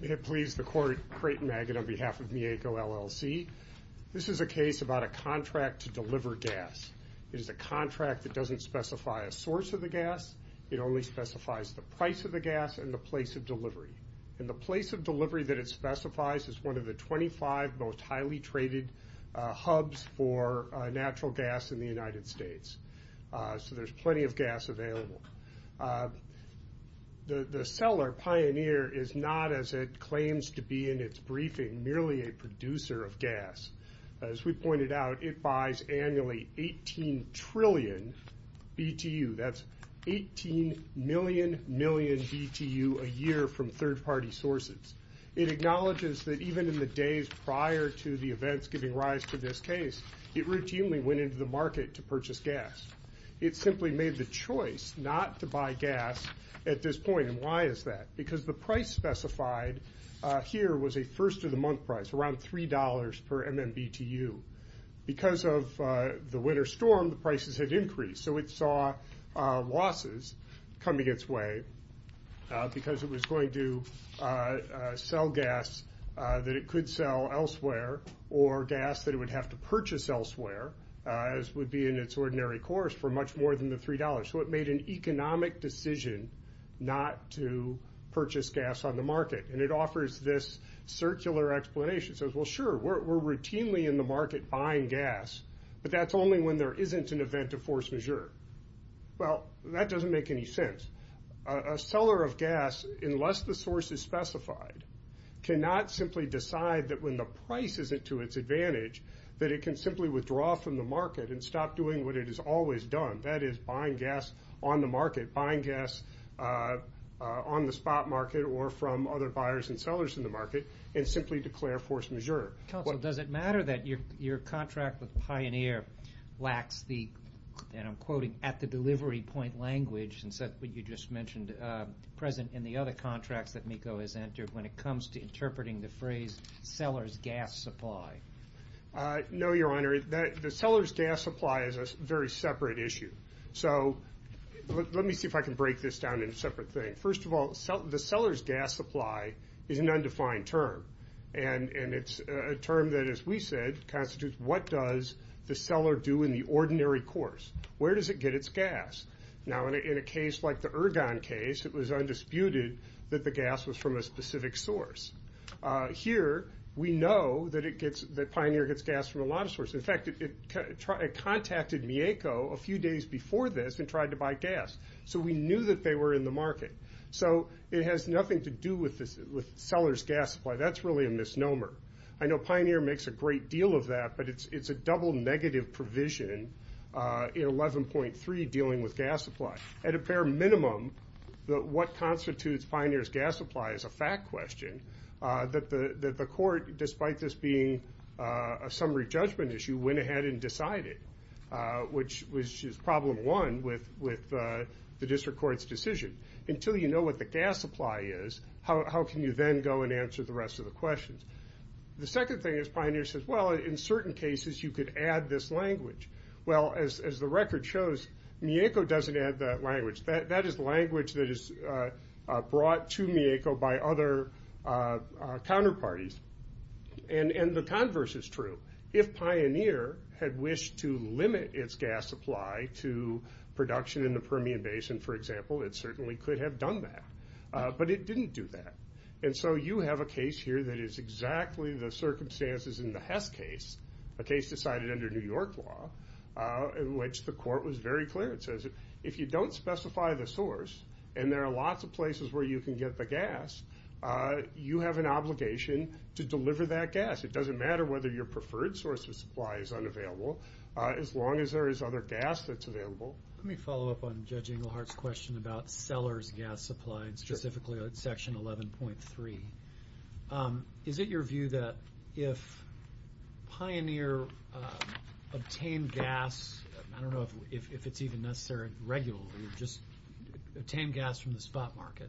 May it please the court, Creighton Magid on behalf of Mieco, L.L.C. This is a case about a contract to deliver gas. It is a contract that doesn't specify a source of the gas, it only specifies the price of the gas and the place of delivery. And the place of delivery that it specifies is one of the 25 most highly traded hubs for natural gas in the United States. So there's plenty of gas available. The seller, Pioneer, is not, as it claims to be in its briefing, merely a producer of gas. As we pointed out, it buys annually 18 trillion BTU, that's 18 million BTU a year from third party sources. It acknowledges that even in the days prior to the events giving rise to this case, it routinely went into the market to purchase gas. It simply made the choice not to buy gas at this point, and why is that? Because the price specified here was a first of the month price, around $3 per MMBTU. Because of the winter storm, the prices had increased, so it saw losses coming its way because it was going to sell gas that it could sell elsewhere, or gas that it would have to purchase elsewhere, as would be in its ordinary course, for much more than the $3. So it made an economic decision not to purchase gas on the market. And it offers this circular explanation. It says, well sure, we're routinely in the market buying gas, but that's only when there isn't an event of force majeure. Well, that doesn't make any sense. A seller of gas, unless the source is specified, cannot simply decide that when the price isn't to its advantage, that it can simply withdraw from the market and stop doing what it has always done, that is buying gas on the market, buying gas on the spot market or from other buyers and sellers in the market, and simply declare force majeure. Counsel, does it matter that your contract with Pioneer lacks the, and I'm quoting, at the delivery point language, since what you just mentioned, present in the other contracts that MECO has entered when it comes to interpreting the phrase seller's gas supply? No, Your Honor. The seller's gas supply is a very separate issue. So let me see if I can break this down into separate things. First of all, the seller's gas supply is an undefined term. And it's a term that, as we said, constitutes what does the seller do in the ordinary course. Where does it get its gas? Now, in a case like the Ergon case, it was undisputed that the gas was from a specific source. Here, we know that Pioneer gets gas from a lot of sources. In fact, it contacted MECO a few days before this and tried to buy gas. So we knew that they were in the market. So it has nothing to do with seller's gas supply. That's really a misnomer. I know Pioneer makes a great deal of that, but it's a double negative provision in 11.3, dealing with gas supply. At a bare minimum, what constitutes Pioneer's gas supply is a fact question that the court, despite this being a summary judgment issue, went ahead and decided. Which is problem one with the district court's decision. Until you know what the gas supply is, how can you then go and answer the rest of the questions? The second thing is, Pioneer says, well, in certain cases, you could add this language. Well, as the record shows, MECO doesn't add that language. That is language that is brought to MECO by other counterparties. And the converse is true. If Pioneer had wished to limit its gas supply to production in the Permian Basin, for example, it certainly could have done that. But it didn't do that. And so you have a case here that is exactly the circumstances in the Hess case. A case decided under New York law, in which the court was very clear. It says, if you don't specify the source, and there are lots of places where you can get the gas, you have an obligation to deliver that gas. It doesn't matter whether your preferred source of supply is unavailable, as long as there is other gas that's available. Let me follow up on Judge Englehart's question about seller's gas supply, and specifically on section 11.3. Is it your view that if Pioneer obtained gas, I don't know if it's even necessary regularly, or just obtained gas from the spot market,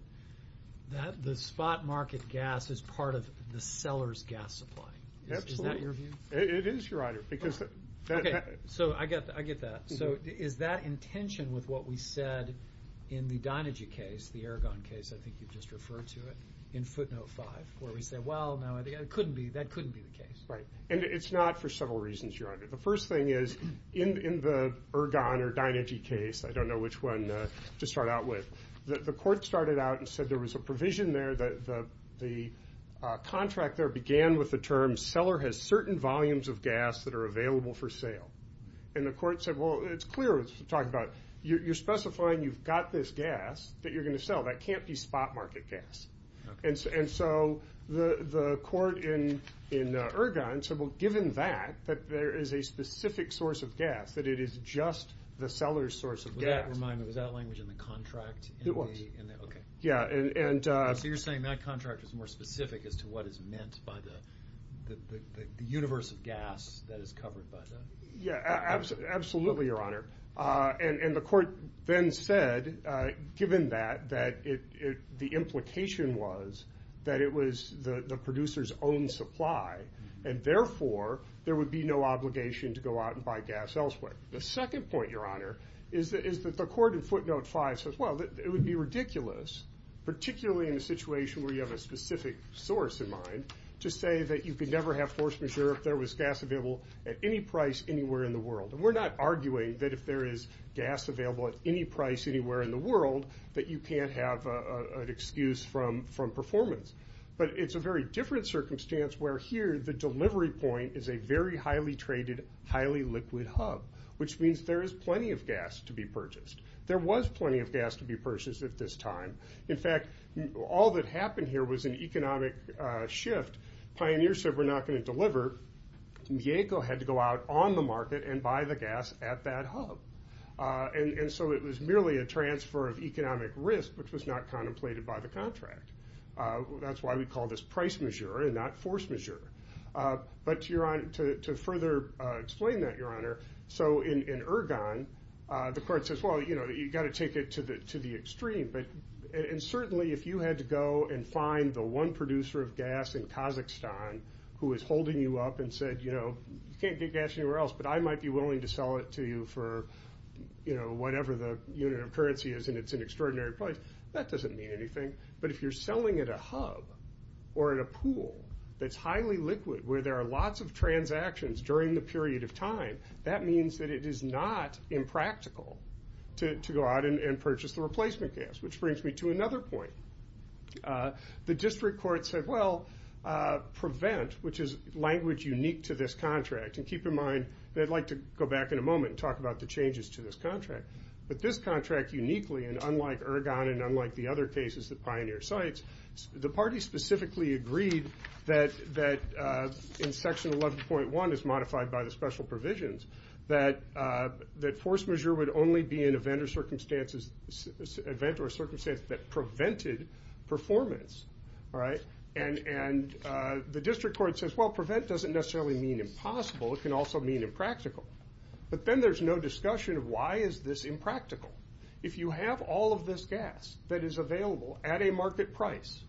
that the spot market gas is part of the seller's gas supply? Is that your view? It is, Your Honor. Okay, so I get that. So is that in tension with what we said in the Dynegy case, the Ergon case, I think you just referred to it, in footnote five, where we say, well, that couldn't be the case. Right. And it's not for several reasons, Your Honor. The first thing is, in the Ergon or Dynegy case, I don't know which one to start out with, the court started out and said there was a provision there, the contract there began with the term, seller has certain volumes of gas that are available for sale. And the court said, well, it's clear, it's talked about, you're specifying you've got this gas that you're going to sell. That can't be spot market gas. And so the court in Ergon said, well, given that, that there is a specific source of gas, that it is just the seller's source of gas. With that in mind, was that language in the contract? It was. Okay. Yeah, and. So you're saying that contract is more specific as to what is meant by the universe of gas that is covered by that? Yeah, absolutely, Your Honor. And the court then said, given that, that the implication was that it was the producer's own supply. And therefore, there would be no obligation to go out and buy gas elsewhere. The second point, Your Honor, is that the court in footnote five says, well, it would be ridiculous, particularly in a situation where you have a specific source in mind, to say that you could never have force majeure if there was gas available at any price anywhere in the world. And we're not arguing that if there is gas available at any price anywhere in the world, that you can't have an excuse from performance. But it's a very different circumstance where here, the delivery point is a very highly traded, highly liquid hub. Which means there is plenty of gas to be purchased. There was plenty of gas to be purchased at this time. In fact, all that happened here was an economic shift. Pioneer said we're not going to deliver. Mieko had to go out on the market and buy the gas at that hub. And so it was merely a transfer of economic risk, which was not contemplated by the contract. That's why we call this price majeure and not force majeure. But to further explain that, Your Honor, so in Ergon, the court says, well, you've got to take it to the extreme. And certainly, if you had to go and find the one producer of gas in Kazakhstan, who was holding you up and said, you can't get gas anywhere else, but I might be willing to sell it to you for whatever the unit of currency is. And it's an extraordinary price. That doesn't mean anything. But if you're selling at a hub or at a pool that's highly liquid, where there are lots of transactions during the period of time, that means that it is not impractical to go out and purchase the replacement gas. Which brings me to another point. The district court said, well, prevent, which is language unique to this contract. And keep in mind, and I'd like to go back in a moment and talk about the changes to this contract. But this contract uniquely, and unlike Ergon and unlike the other cases that Pioneer cites, the party specifically agreed that in section 11.1, as modified by the special provisions, that force majeure would only be an event or circumstance that prevented performance, all right? And the district court says, well, prevent doesn't necessarily mean impossible. It can also mean impractical. But then there's no discussion of why is this impractical. If you have all of this gas that is available at a market price,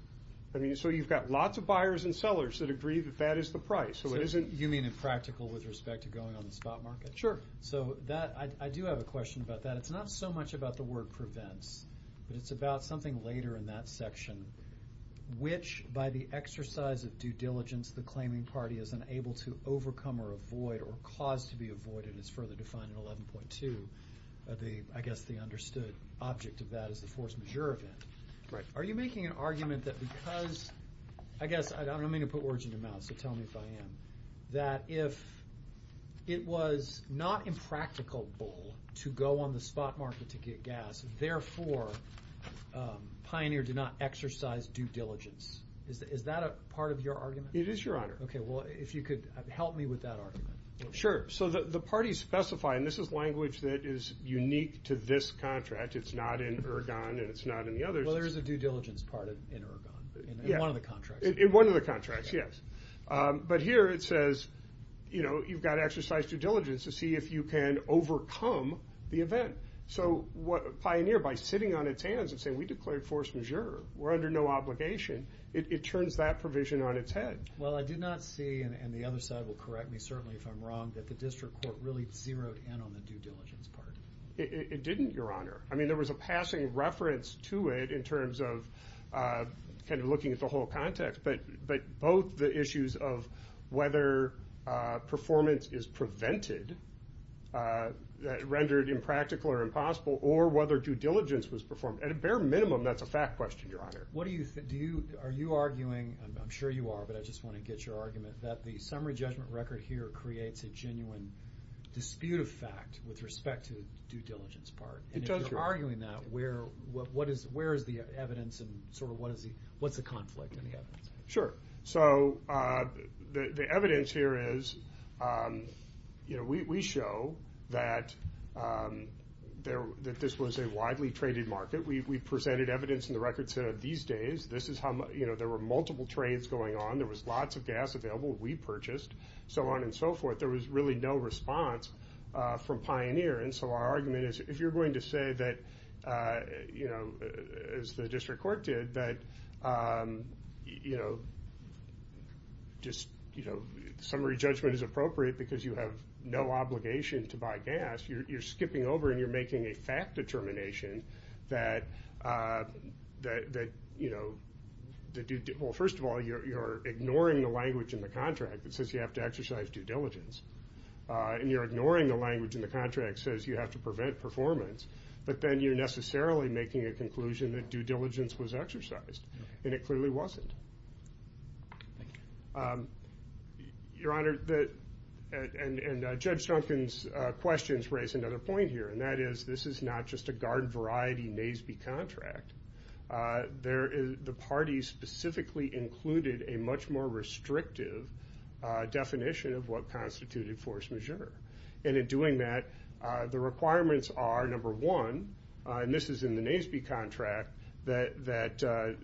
I mean, so you've got lots of buyers and sellers that agree that that is the price. So it isn't- You mean impractical with respect to going on the spot market? Sure. So that, I do have a question about that. It's not so much about the word prevents, but it's about something later in that section, which by the exercise of due diligence, the claiming party is unable to overcome or avoid or cause to be avoided, as further defined in 11.2. I guess the understood object of that is the force majeure event. Right. Are you making an argument that because, I guess, I don't mean to put words in your mouth, so tell me if I am, that if it was not impractical to go on the spot market to get gas, therefore, Pioneer did not exercise due diligence. Is that a part of your argument? It is, Your Honor. Okay, well, if you could help me with that argument. Sure. So the parties specify, and this is language that is unique to this contract. It's not in Ergon, and it's not in the others. Well, there is a due diligence part in Ergon, in one of the contracts. In one of the contracts, yes. But here it says, you've got to exercise due diligence to see if you can overcome the event. So, Pioneer, by sitting on its hands and saying, we declared force majeure, we're under no obligation, it turns that provision on its head. Well, I did not see, and the other side will correct me, certainly, if I'm wrong, that the district court really zeroed in on the due diligence part. It didn't, Your Honor. I mean, there was a passing reference to it in terms of kind of looking at the whole context, but both the issues of whether performance is prevented, rendered impractical or impossible, or whether due diligence was performed. At a bare minimum, that's a fact question, Your Honor. Are you arguing, I'm sure you are, but I just want to get your argument, that the summary judgment record here creates a genuine dispute of fact with respect to the due diligence part? It does, Your Honor. And if you're arguing that, where is the evidence and sort of what's the conflict in the evidence? Sure. So, the evidence here is, you know, we show that this was a widely traded market. We presented evidence in the record set of these days. This is how, you know, there were multiple trades going on. There was lots of gas available, we purchased, so on and so forth. There was really no response from Pioneer. And so our argument is, if you're going to say that, you know, as the district court did, that, you know, just, you know, summary judgment is appropriate because you have no obligation to buy gas, you're skipping over and you're making a fact determination that, that, you know, the due, well, first of all, you're ignoring the language in the contract that says you have to exercise due diligence. And you're ignoring the language in the contract that says you have to prevent performance, but then you're necessarily making a conclusion that due diligence was exercised. It clearly wasn't. Your Honor, and Judge Duncan's questions raise another point here, and that is, this is not just a garden variety NASB contract. There is, the parties specifically included a much more restrictive definition of what constituted force majeure. And in doing that, the requirements are, number one, and this is in the NASB contract, that, that to,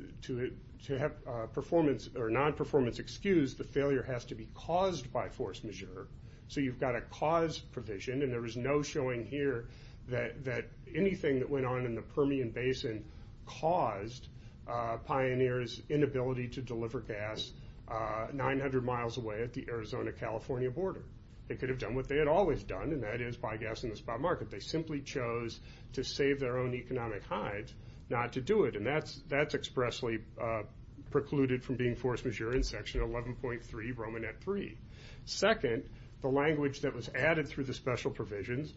to have performance, or non-performance excused, the failure has to be caused by force majeure. So you've got a cause provision, and there is no showing here that, that anything that went on in the Permian Basin caused Pioneer's inability to deliver gas 900 miles away at the Arizona-California border. They could have done what they had always done, and that is buy gas in the spot market. They simply chose to save their own economic hide, not to do it, and that's, that's expressly precluded from being force majeure in section 11.3, Romanette 3. Second, the language that was added through the special provisions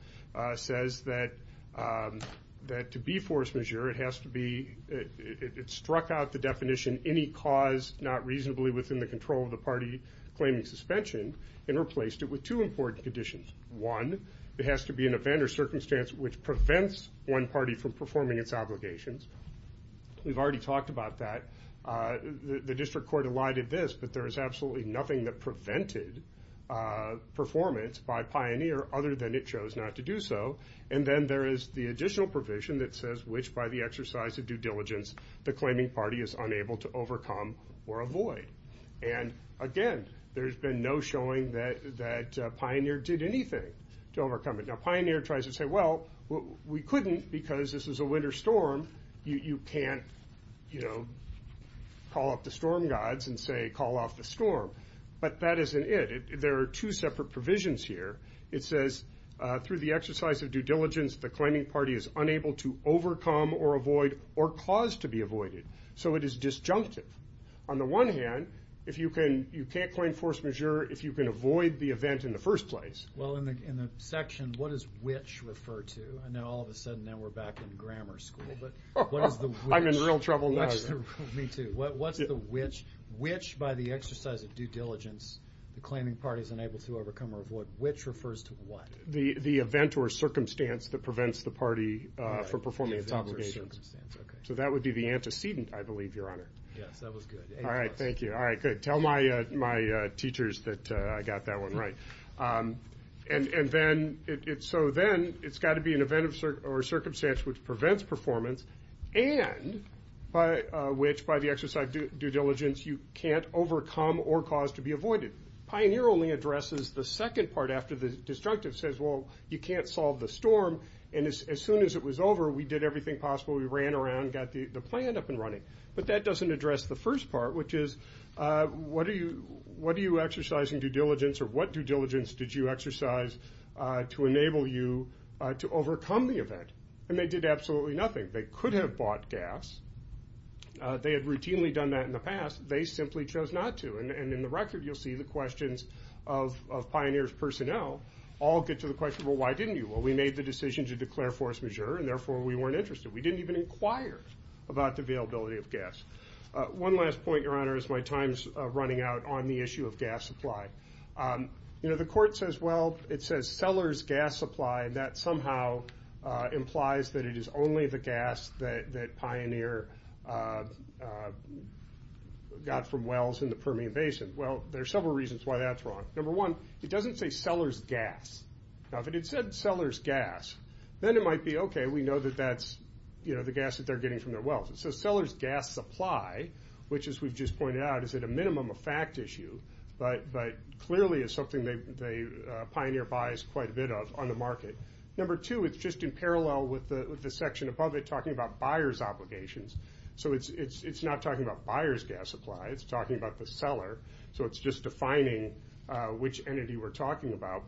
says that, that to be force majeure, it has to be, it struck out the definition, any cause not reasonably within the control of the party claiming suspension, and replaced it with two important conditions. One, it has to be an event or circumstance which prevents one party from performing its obligations. We've already talked about that. The district court elided this, but there is absolutely nothing that prevented performance by Pioneer other than it chose not to do so. And then there is the additional provision that says which by the exercise of due diligence the claiming party is unable to overcome or avoid. And again, there's been no showing that, that Pioneer did anything to overcome it. Now Pioneer tries to say, well, we couldn't because this is a winter storm. You, you can't, you know, call up the storm gods and say, call off the storm. But that isn't it. There are two separate provisions here. It says, through the exercise of due diligence, the claiming party is unable to overcome or avoid or cause to be avoided. So it is disjunctive. On the one hand, if you can, you can't claim force majeure if you can avoid the event in the first place. Well, in the, in the section, what does which refer to? I know all of a sudden now we're back in grammar school, but what is the which? I'm in real trouble now. Me too. What's the which? Which by the exercise of due diligence, the claiming party is unable to overcome or avoid. Which refers to what? The, the event or circumstance that prevents the party from performing its obligations. So that would be the antecedent, I believe, Your Honor. Yes, that was good. All right, thank you. All right, good. Tell my, my teachers that I got that one right. And, and then it, it, so then it's got to be an event or circumstance which prevents performance and by, which by the exercise of due diligence, you can't overcome or cause to be avoided. Pioneer only addresses the second part after the disjunctive says, well, you can't solve the storm. And as, as soon as it was over, we did everything possible. We ran around, got the, the plan up and running. But that doesn't address the first part, which is what are you, what are you exercising due diligence or what due diligence did you exercise to enable you to overcome the event? And they did absolutely nothing. They could have bought gas. They had routinely done that in the past. They simply chose not to. And, and in the record, you'll see the questions of, of Pioneer's personnel all get to the question, well, why didn't you? Well, we made the decision to declare force majeure and therefore we weren't interested. We didn't even inquire about the availability of gas. One last point, your honor, as my time's running out on the issue of gas supply. You know, the court says, well, it says seller's gas supply and that somehow implies that it is only the gas that, that Pioneer got from wells in the Permian Basin. Well, there's several reasons why that's wrong. Number one, it doesn't say seller's gas. Now, if it said seller's gas, then it might be okay. We know that that's, you know, the gas that they're getting from their wells. So seller's gas supply, which as we've just pointed out, is at a minimum a fact issue, but, but clearly is something they, they Pioneer buys quite a bit of on the market. Number two, it's just in parallel with the, with the section above it talking about buyer's obligations. So it's, it's, it's not talking about buyer's gas supply. It's talking about the seller. So it's just defining which entity we're talking about.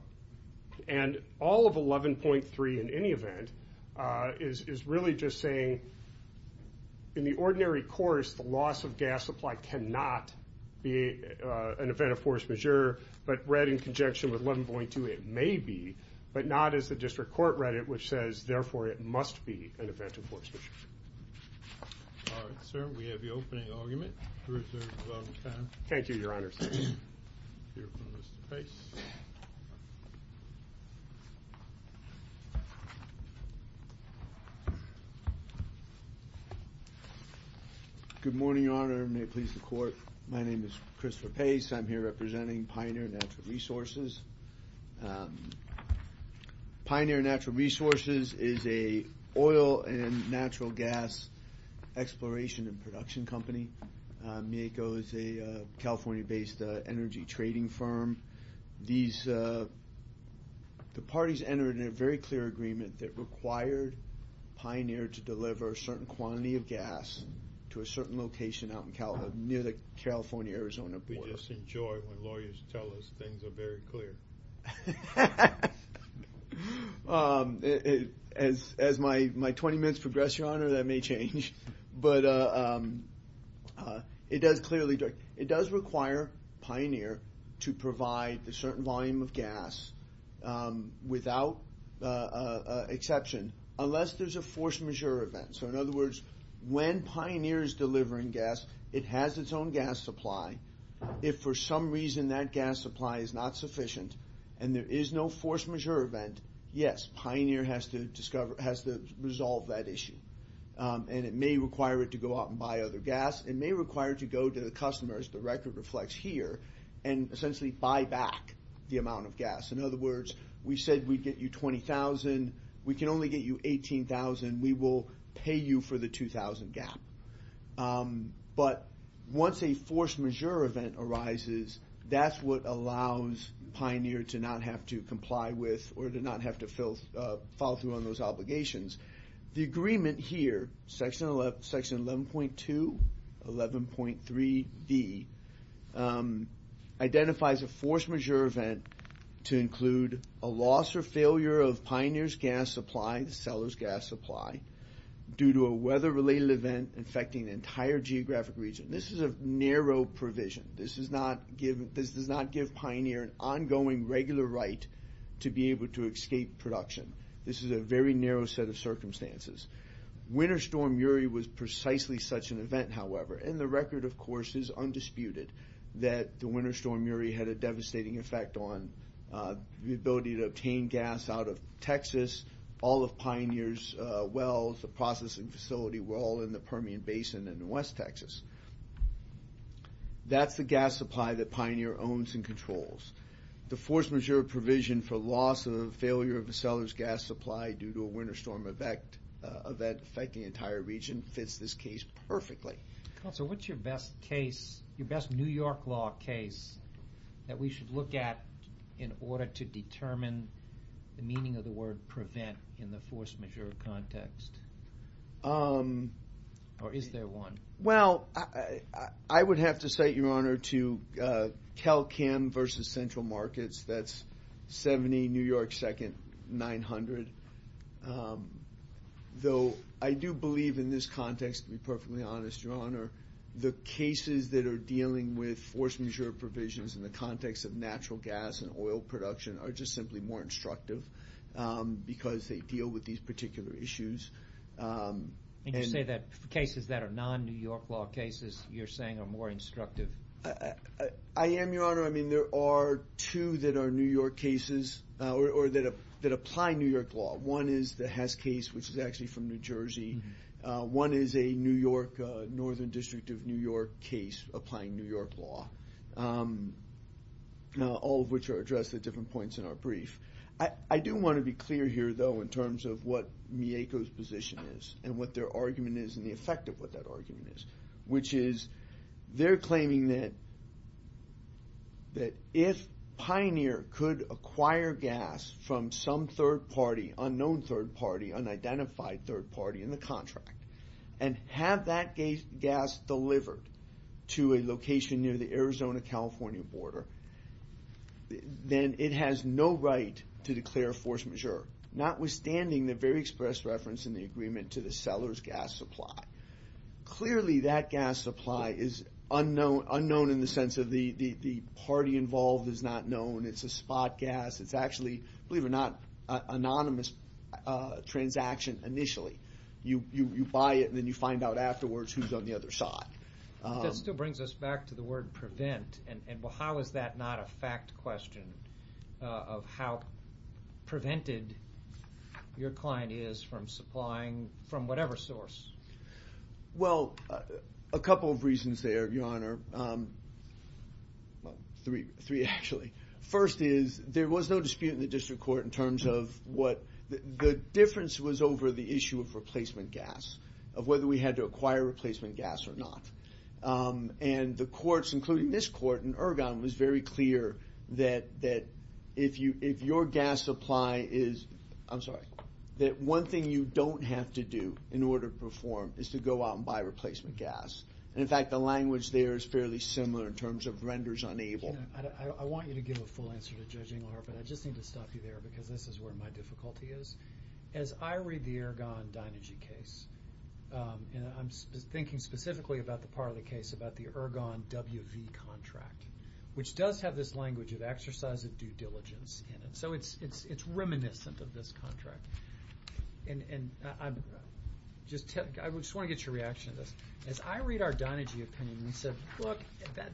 And all of 11.3 in any event is, is really just saying, in the ordinary course, the loss of gas supply cannot be an event of force majeure, but read in conjunction with 11.2, it may be, but not as the district court read it, which says, therefore, it must be an event of force majeure. All right, sir, we have the opening argument. Bruce, there's a lot of time. Thank you, your honors. Here from Mr. Pace. Good morning, your honor. May it please the court. My name is Christopher Pace. I'm here representing Pioneer Natural Resources. Pioneer Natural Resources is a oil and natural gas exploration and production company. Mieko is a California-based energy trading firm. These, the parties entered a very clear agreement that required Pioneer to deliver a certain quantity of gas to a certain location out in Cal, near the California-Arizona border. We just enjoy when lawyers tell us things are very clear. As, as my, my 20 minutes progress, your honor, that may change. But it does clearly, it does require Pioneer to provide a certain volume of gas without exception, unless there's a force majeure event. So in other words, when Pioneer is delivering gas, it has its own gas supply. If for some reason that gas supply is not sufficient, and there is no force majeure event, yes, Pioneer has to discover, has to resolve that issue. And it may require it to go out and buy other gas. It may require it to go to the customers, the record reflects here, and essentially buy back the amount of gas. In other words, we said we'd get you 20,000, we can only get you 18,000, we will pay you for the 2,000 gap. But once a force majeure event arises, that's what allows Pioneer to not have to comply with, or to not have to fill, follow through on those obligations. The agreement here, section 11.2, 11.3b, identifies a force majeure event to include a loss or failure of Pioneer's gas supply, the seller's gas supply, due to a weather related event infecting the entire geographic region. This is a narrow provision. This does not give Pioneer an ongoing regular right to be able to escape production. This is a very narrow set of circumstances. Winter Storm Uri was precisely such an event, however, and the record, of course, is undisputed that the Winter Storm Uri had a devastating effect on the ability to obtain gas out of Texas, all of Pioneer's wells, the processing facility, were all in the Permian Basin in West Texas. The force majeure provision for loss or failure of a seller's gas supply due to a winter storm event affecting the entire region fits this case perfectly. Counselor, what's your best case, your best New York law case that we should look at in order to determine the meaning of the word prevent in the force majeure context? Or is there one? Well, I would have to cite, your honor, to Cal-Chem versus Central Markets. That's 70 New York Second, 900. Though I do believe in this context, to be perfectly honest, your honor, the cases that are dealing with force majeure provisions in the context of natural gas and oil production are just simply more instructive because they deal with these particular issues. And you say that cases that are non-New York law cases, you're saying, are more instructive. I am, your honor. I mean, there are two that are New York cases or that apply New York law. One is the Hess case, which is actually from New Jersey. One is a Northern District of New York case applying New York law, all of which are addressed at different points in our brief. I do want to be clear here, though, in terms of what Mieko's position is and what their argument is and the effect of what that argument is. Which is, they're claiming that if Pioneer could acquire gas from some third party, unknown third party, unidentified third party in the contract, and have that gas delivered to a location near the Arizona-California border, then it has no right to declare force majeure, notwithstanding the very express reference in the agreement to the seller's gas supply. Clearly, that gas supply is unknown in the sense of the party involved is not known. It's a spot gas. It's actually, believe it or not, an anonymous transaction initially. You buy it and then you find out afterwards who's on the other side. That still brings us back to the word prevent, and how is that not a fact question of how prevented your client is from supplying from whatever source? Well, a couple of reasons there, Your Honor. Three, actually. First is, there was no dispute in the district court in terms of what the difference was over the issue of replacement gas, of whether we had to acquire replacement gas or not. And the courts, including this court in Ergon, was very clear that if your gas supply is, I'm sorry, that one thing you don't have to do in order to perform is to go out and buy replacement gas. And in fact, the language there is fairly similar in terms of renders unable. Your Honor, I want you to give a full answer to Judge Engelhardt, but I just need to stop you there because this is where my difficulty is. As I read the Ergon Dynegy case, and I'm thinking specifically about the part of the case about the Ergon WV contract, which does have this language of exercise of due diligence in it. So it's reminiscent of this contract. And I just want to get your reaction to this. As I read our Dynegy opinion, we said, look,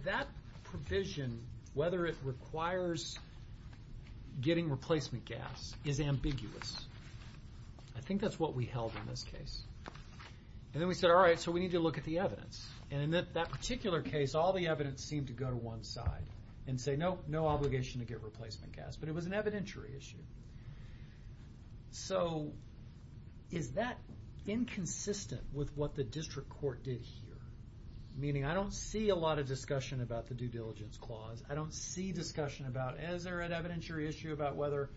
that provision, whether it requires getting replacement gas, is ambiguous. I think that's what we held in this case. And then we said, all right, so we need to look at the evidence. And in that particular case, all the evidence seemed to go to one side and say, nope, no obligation to get replacement gas. But it was an evidentiary issue. So is that inconsistent with what the district court did here? Meaning, I don't see a lot of discussion about the due diligence clause. I don't see discussion about, is there an evidentiary issue about whether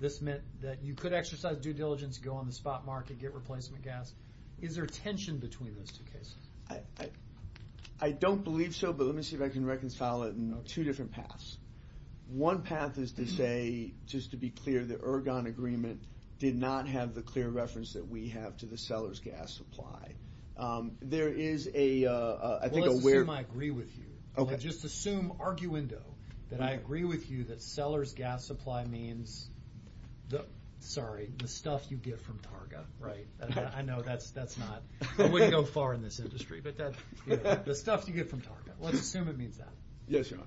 this meant that you could exercise due diligence, go on the spot market, get replacement gas? Is there tension between those two cases? I don't believe so. But let me see if I can reconcile it in two different paths. One path is to say, just to be clear, the Ergon agreement did not have the clear reference that we have to the seller's gas supply. There is a, I think, a weird- Well, let's assume I agree with you. Just assume, arguendo, that I agree with you that seller's gas supply means, sorry, the stuff you get from Targa, right? I know that's not, I wouldn't go far in this industry. But the stuff you get from Targa, let's assume it means that. Yes, your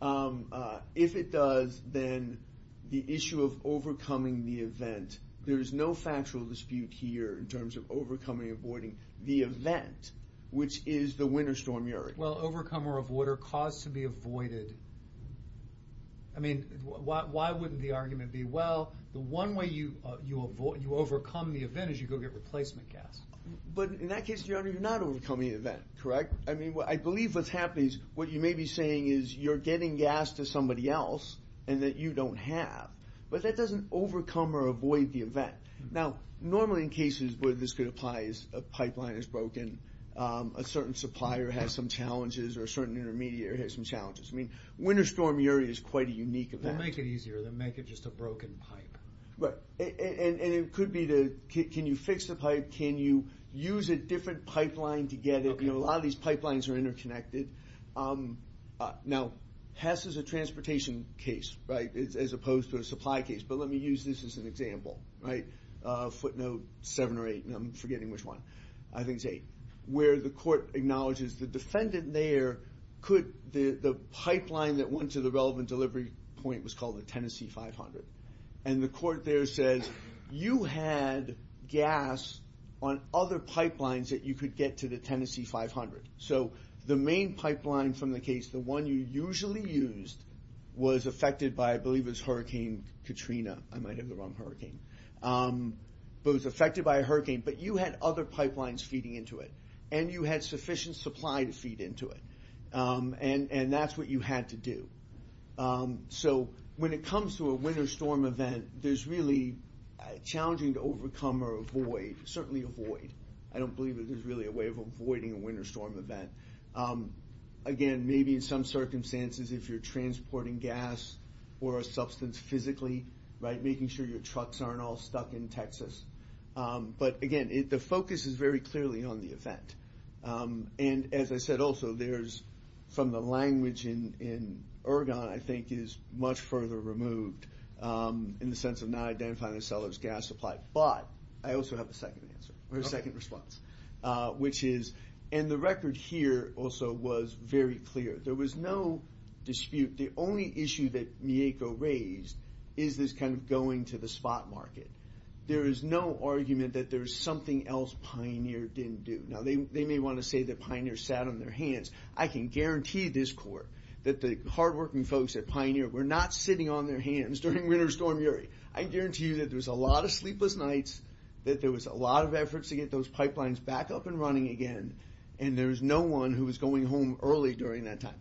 honor. If it does, then the issue of overcoming the event, there is no factual dispute here in terms of overcoming or avoiding the event, which is the winter storm URI. Well, overcome or avoid or cause to be avoided, I mean, why wouldn't the argument be, well, the one way you overcome the event is you go get replacement gas. But in that case, your honor, you're not overcoming the event, correct? I mean, I believe what's happening is, what you may be saying is, you're getting gas to somebody else and that you don't have. But that doesn't overcome or avoid the event. Now, normally in cases where this could apply is a pipeline is broken, a certain supplier has some challenges or a certain intermediary has some challenges. I mean, winter storm URI is quite a unique event. They'll make it easier. They'll make it just a broken pipe. Right, and it could be the, can you fix the pipe? Can you use a different pipeline to get it? You know, a lot of these pipelines are interconnected. Now, HESS is a transportation case, right? As opposed to a supply case. But let me use this as an example, right? Footnote seven or eight, and I'm forgetting which one. I think it's eight. Where the court acknowledges the defendant there could, the pipeline that went to the relevant delivery point was called the Tennessee 500. And the court there says, you had gas on other pipelines that you could get to the Tennessee 500. So the main pipeline from the case, the one you usually used, was affected by, I believe it was Hurricane Katrina. I might have the wrong hurricane. But it was affected by a hurricane. But you had other pipelines feeding into it. And you had sufficient supply to feed into it. And that's what you had to do. So when it comes to a winter storm event, there's really, challenging to overcome or avoid, certainly avoid. I don't believe that there's really a way of avoiding a winter storm event. Again, maybe in some circumstances, if you're transporting gas or a substance physically, right, making sure your trucks aren't all stuck in Texas. But again, the focus is very clearly on the event. And as I said also, there's, from the language in Ergon, I think is much further removed in the sense of not identifying the seller's gas supply. But I also have a second answer, or a second response, which is, and the record here also was very clear. There was no dispute. The only issue that Mieko raised is this kind of going to the spot market. There is no argument that there's something else Pioneer didn't do. Now, they may want to say that Pioneer sat on their hands. I can guarantee this court, that the hardworking folks at Pioneer were not sitting on their hands during winter storm Yuri. I guarantee you that there was a lot of sleepless nights, that there was a lot of efforts to get those pipelines back up and running again. And there was no one who was going home early during that time.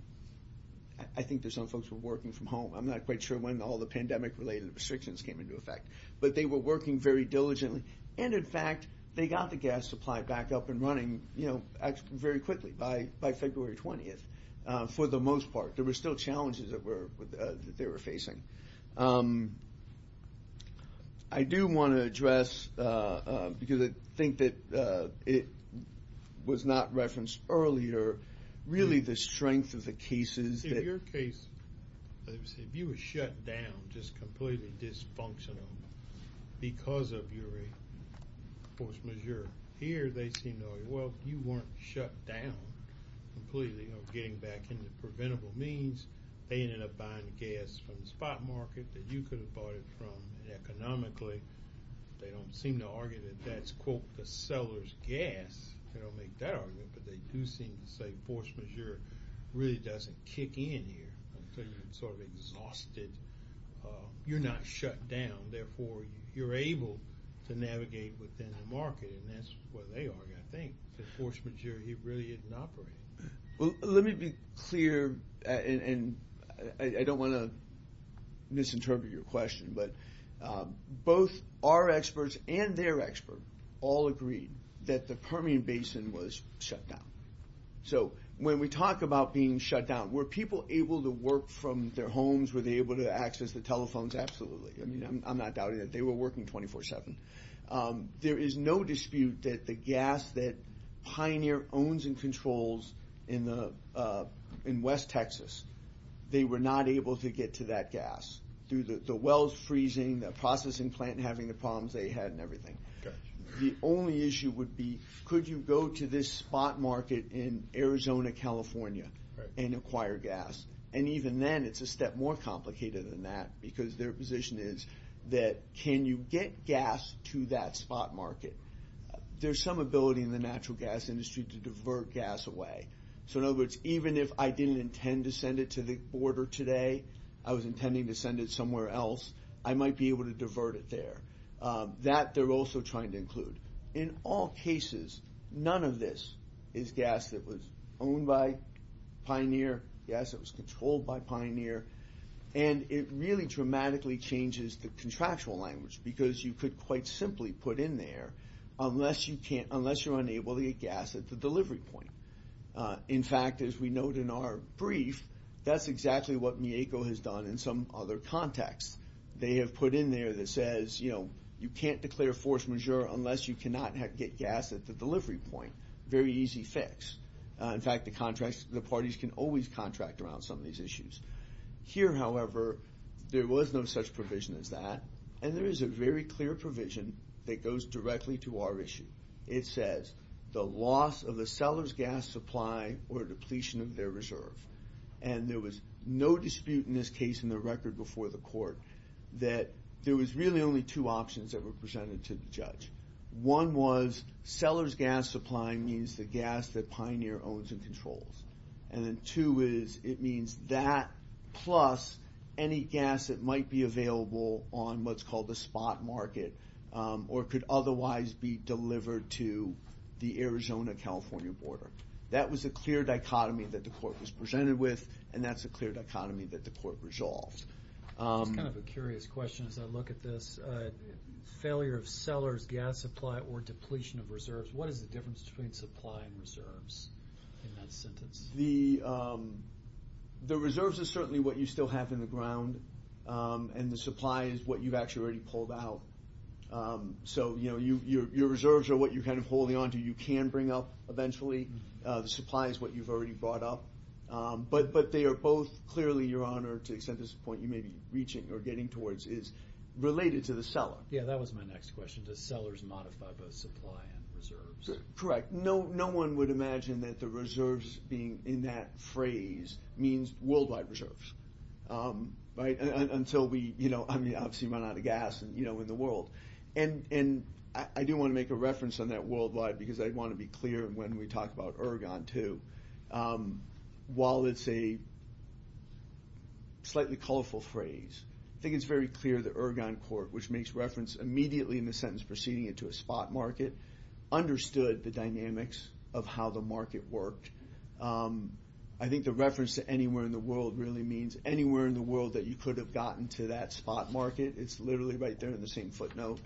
I think there's some folks were working from home. I'm not quite sure when all the pandemic related restrictions came into effect. But they were working very diligently. And in fact, they got the gas supply back up and running very quickly by February 20th, for the most part. There were still challenges that they were facing. I do want to address, because I think that it was not referenced earlier, really the strength of the cases. In your case, if you were shut down, just completely dysfunctional, because of Yuri, force majeure. Here, they seem to argue, well, you weren't shut down completely, you know, getting back into preventable means. They ended up buying gas from the spot market that you could have bought it from. Economically, they don't seem to argue that that's, quote, the seller's gas. They don't make that argument. But they do seem to say force majeure really doesn't kick in here until you're sort of exhausted. You're not shut down. Therefore, you're able to navigate within the market. And that's what they argue, I think, that force majeure really isn't operating. Let me be clear, and I don't want to misinterpret your question. But both our experts and their expert all agreed that the Permian Basin was shut down. So when we talk about being shut down, were people able to work from their homes? Were they able to access the telephones? Absolutely. I mean, I'm not doubting that. They were working 24-7. There is no dispute that the gas that Pioneer owns and controls in West Texas, they were not able to get to that gas through the wells freezing, the processing plant having the problems they had and everything. The only issue would be, could you go to this spot market in Arizona, California and acquire gas? And even then, it's a step more complicated than that because their position is that can you get gas to that spot market? There's some ability in the natural gas industry to divert gas away. So in other words, even if I didn't intend to send it to the border today, I was intending to send it somewhere else, I might be able to divert it there. That they're also trying to include. In all cases, none of this is gas that was owned by Pioneer, gas that was controlled by Pioneer. And it really dramatically changes the contractual language because you could quite simply put in there, unless you're unable to get gas at the delivery point. In fact, as we note in our brief, that's exactly what Mieko has done in some other contexts. They have put in there that says, you can't declare force majeure unless you cannot get gas at the delivery point. Very easy fix. In fact, the parties can always contract around some of these issues. Here, however, there was no such provision as that. And there is a very clear provision that goes directly to our issue. It says, the loss of the seller's gas supply or depletion of their reserve. And there was no dispute in this case, in the record before the court, that there was really only two options that were presented to the judge. One was, seller's gas supply means the gas that Pioneer owns and controls. And then two is, it means that plus any gas that might be available on what's called the to the Arizona-California border. That was a clear dichotomy that the court was presented with. And that's a clear dichotomy that the court resolved. It's kind of a curious question as I look at this. Failure of seller's gas supply or depletion of reserves. What is the difference between supply and reserves in that sentence? The reserves is certainly what you still have in the ground. And the supply is what you've actually already pulled out. So, you know, your reserves are what you're kind of holding on to. You can bring up eventually. The supply is what you've already brought up. But they are both clearly, Your Honor, to the extent this is the point you may be reaching or getting towards, is related to the seller. Yeah, that was my next question. Does sellers modify both supply and reserves? Correct. No one would imagine that the reserves being in that phrase means worldwide reserves. Right? Until we obviously run out of gas in the world. And I do want to make a reference on that worldwide because I want to be clear when we talk about Ergon, too. While it's a slightly colorful phrase, I think it's very clear that Ergon Court, which makes reference immediately in the sentence preceding it to a spot market, understood the dynamics of how the market worked. I think the reference to anywhere in the world really means anywhere in the world that you could have gotten to that spot market. It's literally right there in the same footnote.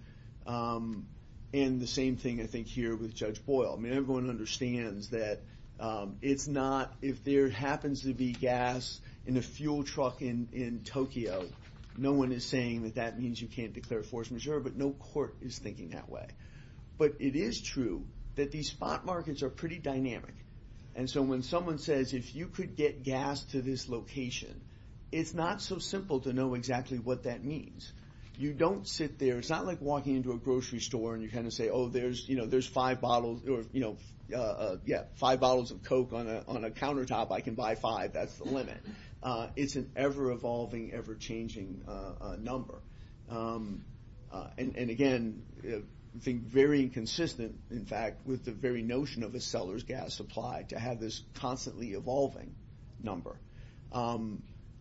And the same thing, I think, here with Judge Boyle. I mean, everyone understands that if there happens to be gas in a fuel truck in Tokyo, no one is saying that that means you can't declare force majeure. But no court is thinking that way. But it is true that these spot markets are pretty dynamic. And so when someone says, if you could get gas to this location, it's not so simple to know exactly what that means. You don't sit there, it's not like walking into a grocery store and you kind of say, oh, there's five bottles of Coke on a countertop, I can buy five, that's the limit. It's an ever-evolving, ever-changing number. And again, I think very consistent, in fact, with the very notion of a seller's gas supply, to have this constantly evolving number.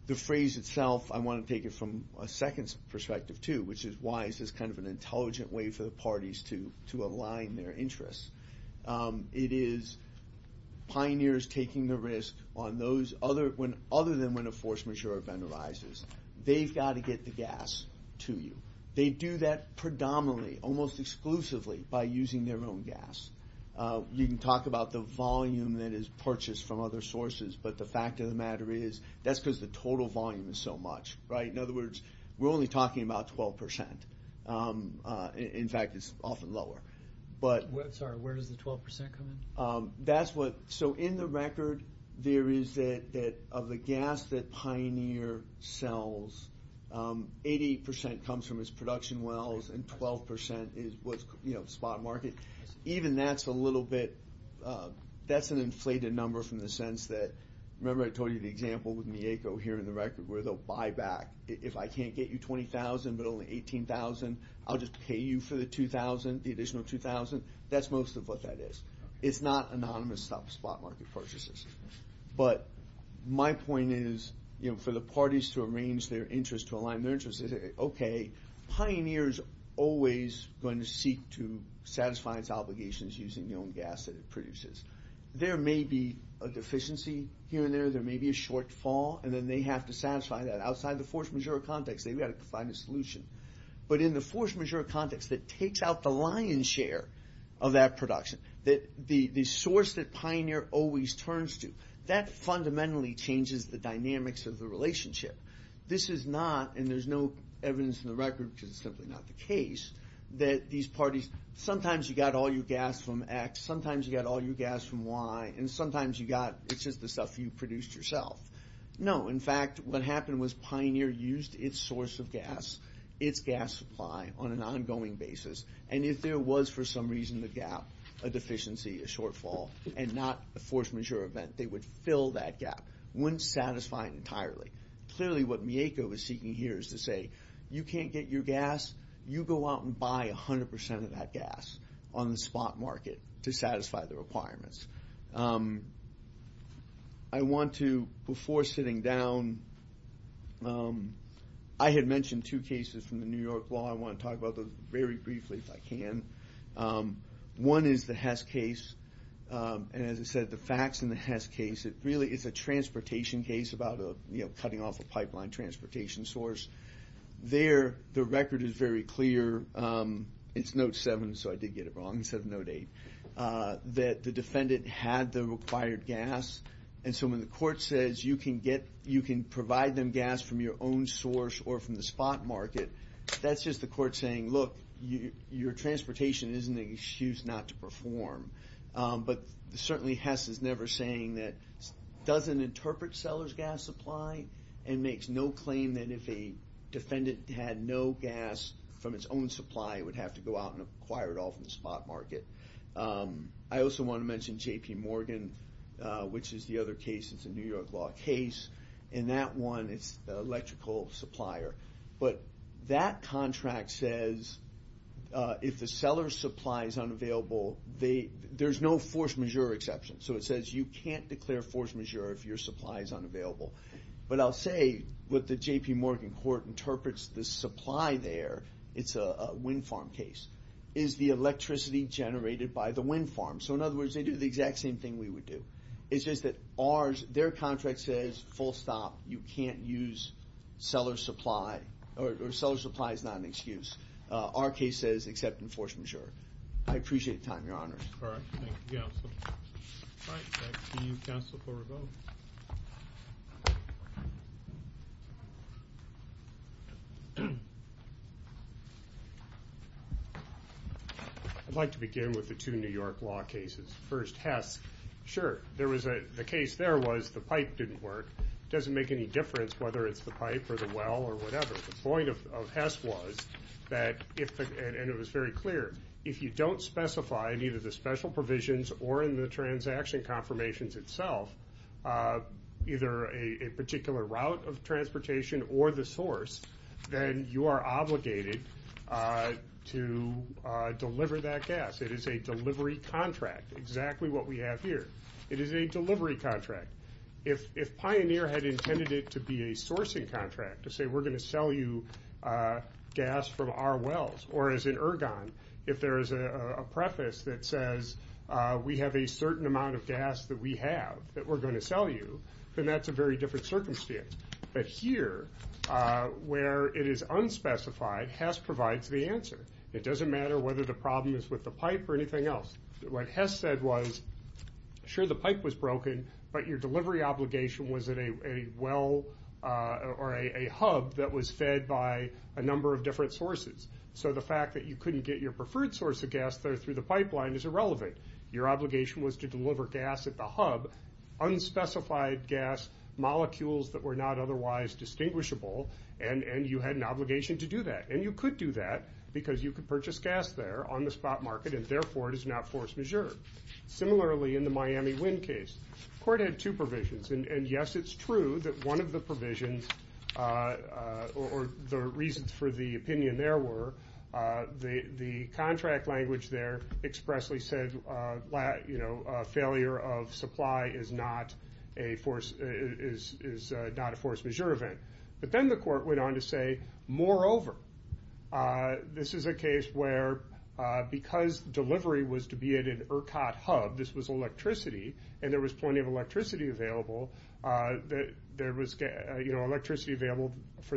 The phrase itself, I want to take it from a second perspective too, which is why is this kind of an intelligent way for the parties to align their interests? It is pioneers taking the risk on those other than when a force majeure event arises. They've got to get the gas to you. They do that predominantly, almost exclusively, by using their own gas. You can talk about the volume that is purchased from other sources, but the fact of the matter is, that's because the total volume is so much, right? In other words, we're only talking about 12%. In fact, it's often lower. Sorry, where does the 12% come in? That's what, so in the record, there is that of the gas that Pioneer sells, 88% comes from its production wells, and 12% is what's spot market. Even that's a little bit, that's an inflated number from the sense that, remember I told you the example with Mieko here in the record, where they'll buy back. If I can't get you 20,000, but only 18,000, I'll just pay you for the 2,000, the additional 2,000. That's most of what that is. It's not anonymous spot market purchases. But my point is, for the parties to arrange their interests, to align their interests, okay, Pioneer's always going to seek to satisfy its obligations using the own gas that it produces. There may be a deficiency here and there, there may be a shortfall, and then they have to satisfy that outside the force majeure context. They've got to find a solution. But in the force majeure context that takes out the lion's share of that production, that the source that Pioneer always turns to, that fundamentally changes the dynamics of the relationship. This is not, and there's no evidence in the record because it's simply not the case, that these parties, sometimes you got all your gas from X, sometimes you got all your gas from Y, and sometimes you got, it's just the stuff you produced yourself. No, in fact, what happened was Pioneer used its source of gas, its gas supply on an ongoing basis. And if there was, for some reason, a gap, a deficiency, a shortfall, and not a force majeure event, they would fill that gap. Wouldn't satisfy it entirely. Clearly, what Mieko was seeking here is to say, you can't get your gas, you go out and buy 100% of that gas on the spot market to satisfy the requirements. I want to, before sitting down, I had mentioned two cases from the New York law. I want to talk about those very briefly, if I can. One is the Hess case. And as I said, the facts in the Hess case, it really is a transportation case about a, you know, cutting off a pipeline transportation source. There, the record is very clear. It's note seven, so I did get it wrong, instead of note eight. That the defendant had the required gas. And so when the court says you can get, you can provide them gas from your own source or from the spot market, that's just the court saying, look, your transportation isn't an excuse not to perform. But certainly, Hess is never saying that, doesn't interpret seller's gas supply, and makes no claim that if a defendant had no gas from its own supply, it would have to go out and acquire it all from the spot market. I also want to mention J.P. Morgan, which is the other case, it's a New York law case. In that one, it's the electrical supplier. But that contract says if the seller's supply is unavailable, they, there's no force majeure exception. So it says you can't declare force majeure if your supply is unavailable. But I'll say what the J.P. Morgan court interprets the supply there, it's a wind farm case, is the electricity generated by the wind farm. So in other words, they do the exact same thing we would do. It's just that ours, their contract says, full stop, you can't use seller's supply, or seller's supply is not an excuse. Our case says, except enforce majeure. I appreciate the time, your honors. All right, thank you, counsel. All right, back to you, counsel, for a vote. I'd like to begin with the two New York law cases. First, Hess. Sure, there was a, the case there was the pipe didn't work. Doesn't make any difference whether it's the pipe or the well or whatever. The point of Hess was that if, and it was very clear, if you don't specify in either the special provisions or in the transaction confirmations itself, either a particular route of transportation or the source, then you are obligated to deliver that gas. It is a delivery contract, exactly what we have here. It is a delivery contract. If, if Pioneer had intended it to be a sourcing contract, to say we're going to sell you gas from our wells, or as in Ergon, if there is a preface that says, we have a certain amount of gas that we have, that we're going to sell you, then that's a very different circumstance. But here, where it is unspecified, Hess provides the answer. It doesn't matter whether the problem is with the pipe or anything else. What Hess said was, sure the pipe was broken, but your delivery obligation was at a well or a hub that was fed by a number of different sources. So the fact that you couldn't get your preferred source of gas there through the pipeline is irrelevant. Your obligation was to deliver gas at the hub, unspecified gas molecules that were not otherwise distinguishable, and you had an obligation to do that. And you could do that because you could purchase gas there on the spot market, and therefore it is not force majeure. Similarly, in the Miami Wind case, the court had two provisions. And yes, it's true that one of the provisions, or the reasons for the opinion there were, the contract language there expressly said, failure of supply is not a force majeure event. But then the court went on to say, this was electricity, and there was plenty of electricity available, for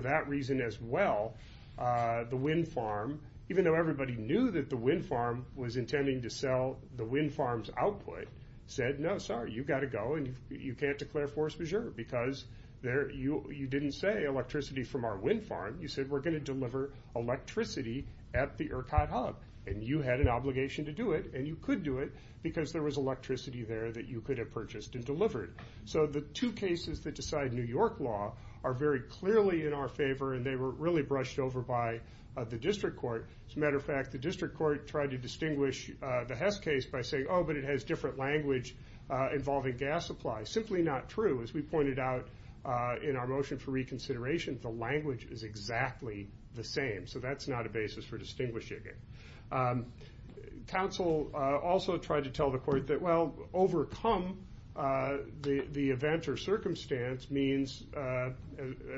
that reason as well, the wind farm, even though everybody knew that the wind farm was intending to sell the wind farm's output, said, no, sorry, you've got to go and you can't declare force majeure because you didn't say electricity from our wind farm, you said we're going to deliver electricity at the ERCOT hub, and you had an obligation to do it, and you could do it because there was electricity there that you could have purchased and delivered. So the two cases that decide New York law are very clearly in our favor, and they were really brushed over by the district court. As a matter of fact, the district court tried to distinguish the Hess case by saying, oh, but it has different language involving gas supply. Simply not true. As we pointed out in our motion for reconsideration, the language is exactly the same. So that's not a basis for distinguishing it. The council also tried to tell the court that, well, overcome the events or circumstance means,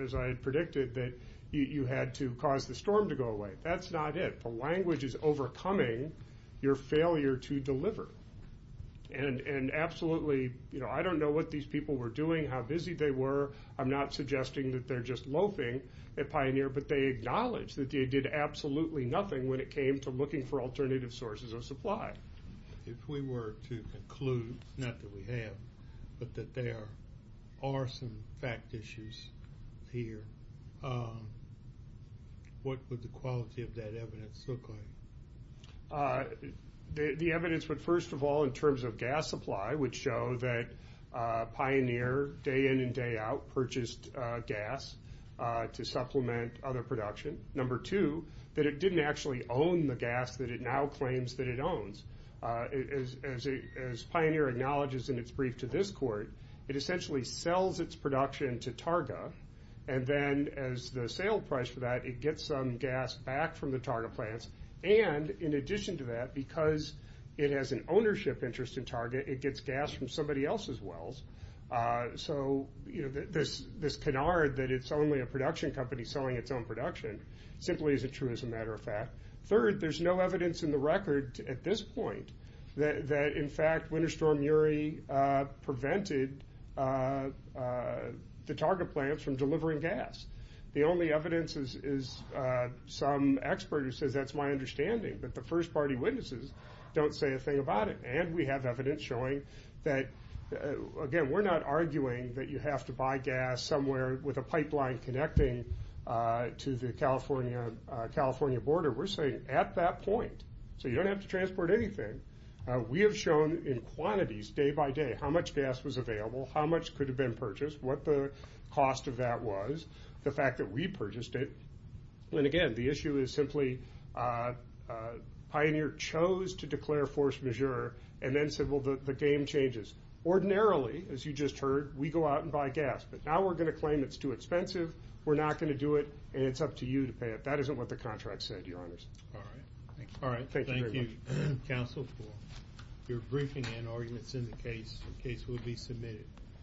as I had predicted, that you had to cause the storm to go away. That's not it. The language is overcoming your failure to deliver. And absolutely, I don't know what these people were doing, how busy they were. I'm not suggesting that they're just loafing at Pioneer, but they acknowledge that they did absolutely nothing when it came to looking for alternative sources of supply. If we were to conclude, not that we have, but that there are some fact issues here, what would the quality of that evidence look like? The evidence would, first of all, in terms of gas supply, would show that Pioneer, day in and day out, purchased gas to supplement other production. Number two, that it didn't actually own the gas that it now claims that it owns. As Pioneer acknowledges in its brief to this court, it essentially sells its production to Targa, and then as the sale price for that, it gets some gas back from the Targa plants. And in addition to that, because it has an ownership interest in Targa, it gets gas from somebody else's wells. So this canard that it's only a production company selling its own production, simply isn't true, as a matter of fact. Third, there's no evidence in the record at this point that, in fact, Winter Storm Uri prevented the Targa plants from delivering gas. The only evidence is some expert who says, that's my understanding, but the first party witnesses don't say a thing about it. And we have evidence showing that, again, we're not arguing that you have to buy gas somewhere with a pipeline connecting to the California border. We're saying, at that point, so you don't have to transport anything, we have shown in quantities, day by day, how much gas was available, how much could have been purchased, what the cost of that was, the fact that we purchased it. And again, the issue is simply, Pioneer chose to declare force majeure and then said, well, the game changes. Ordinarily, as you just heard, we go out and buy gas, but now we're going to claim it's too expensive, we're not going to do it, and it's up to you to pay it. That isn't what the contract said, Your Honors. All right. All right. Thank you very much. Thank you, Counsel. You're briefing in arguments in the case. The case will be submitted.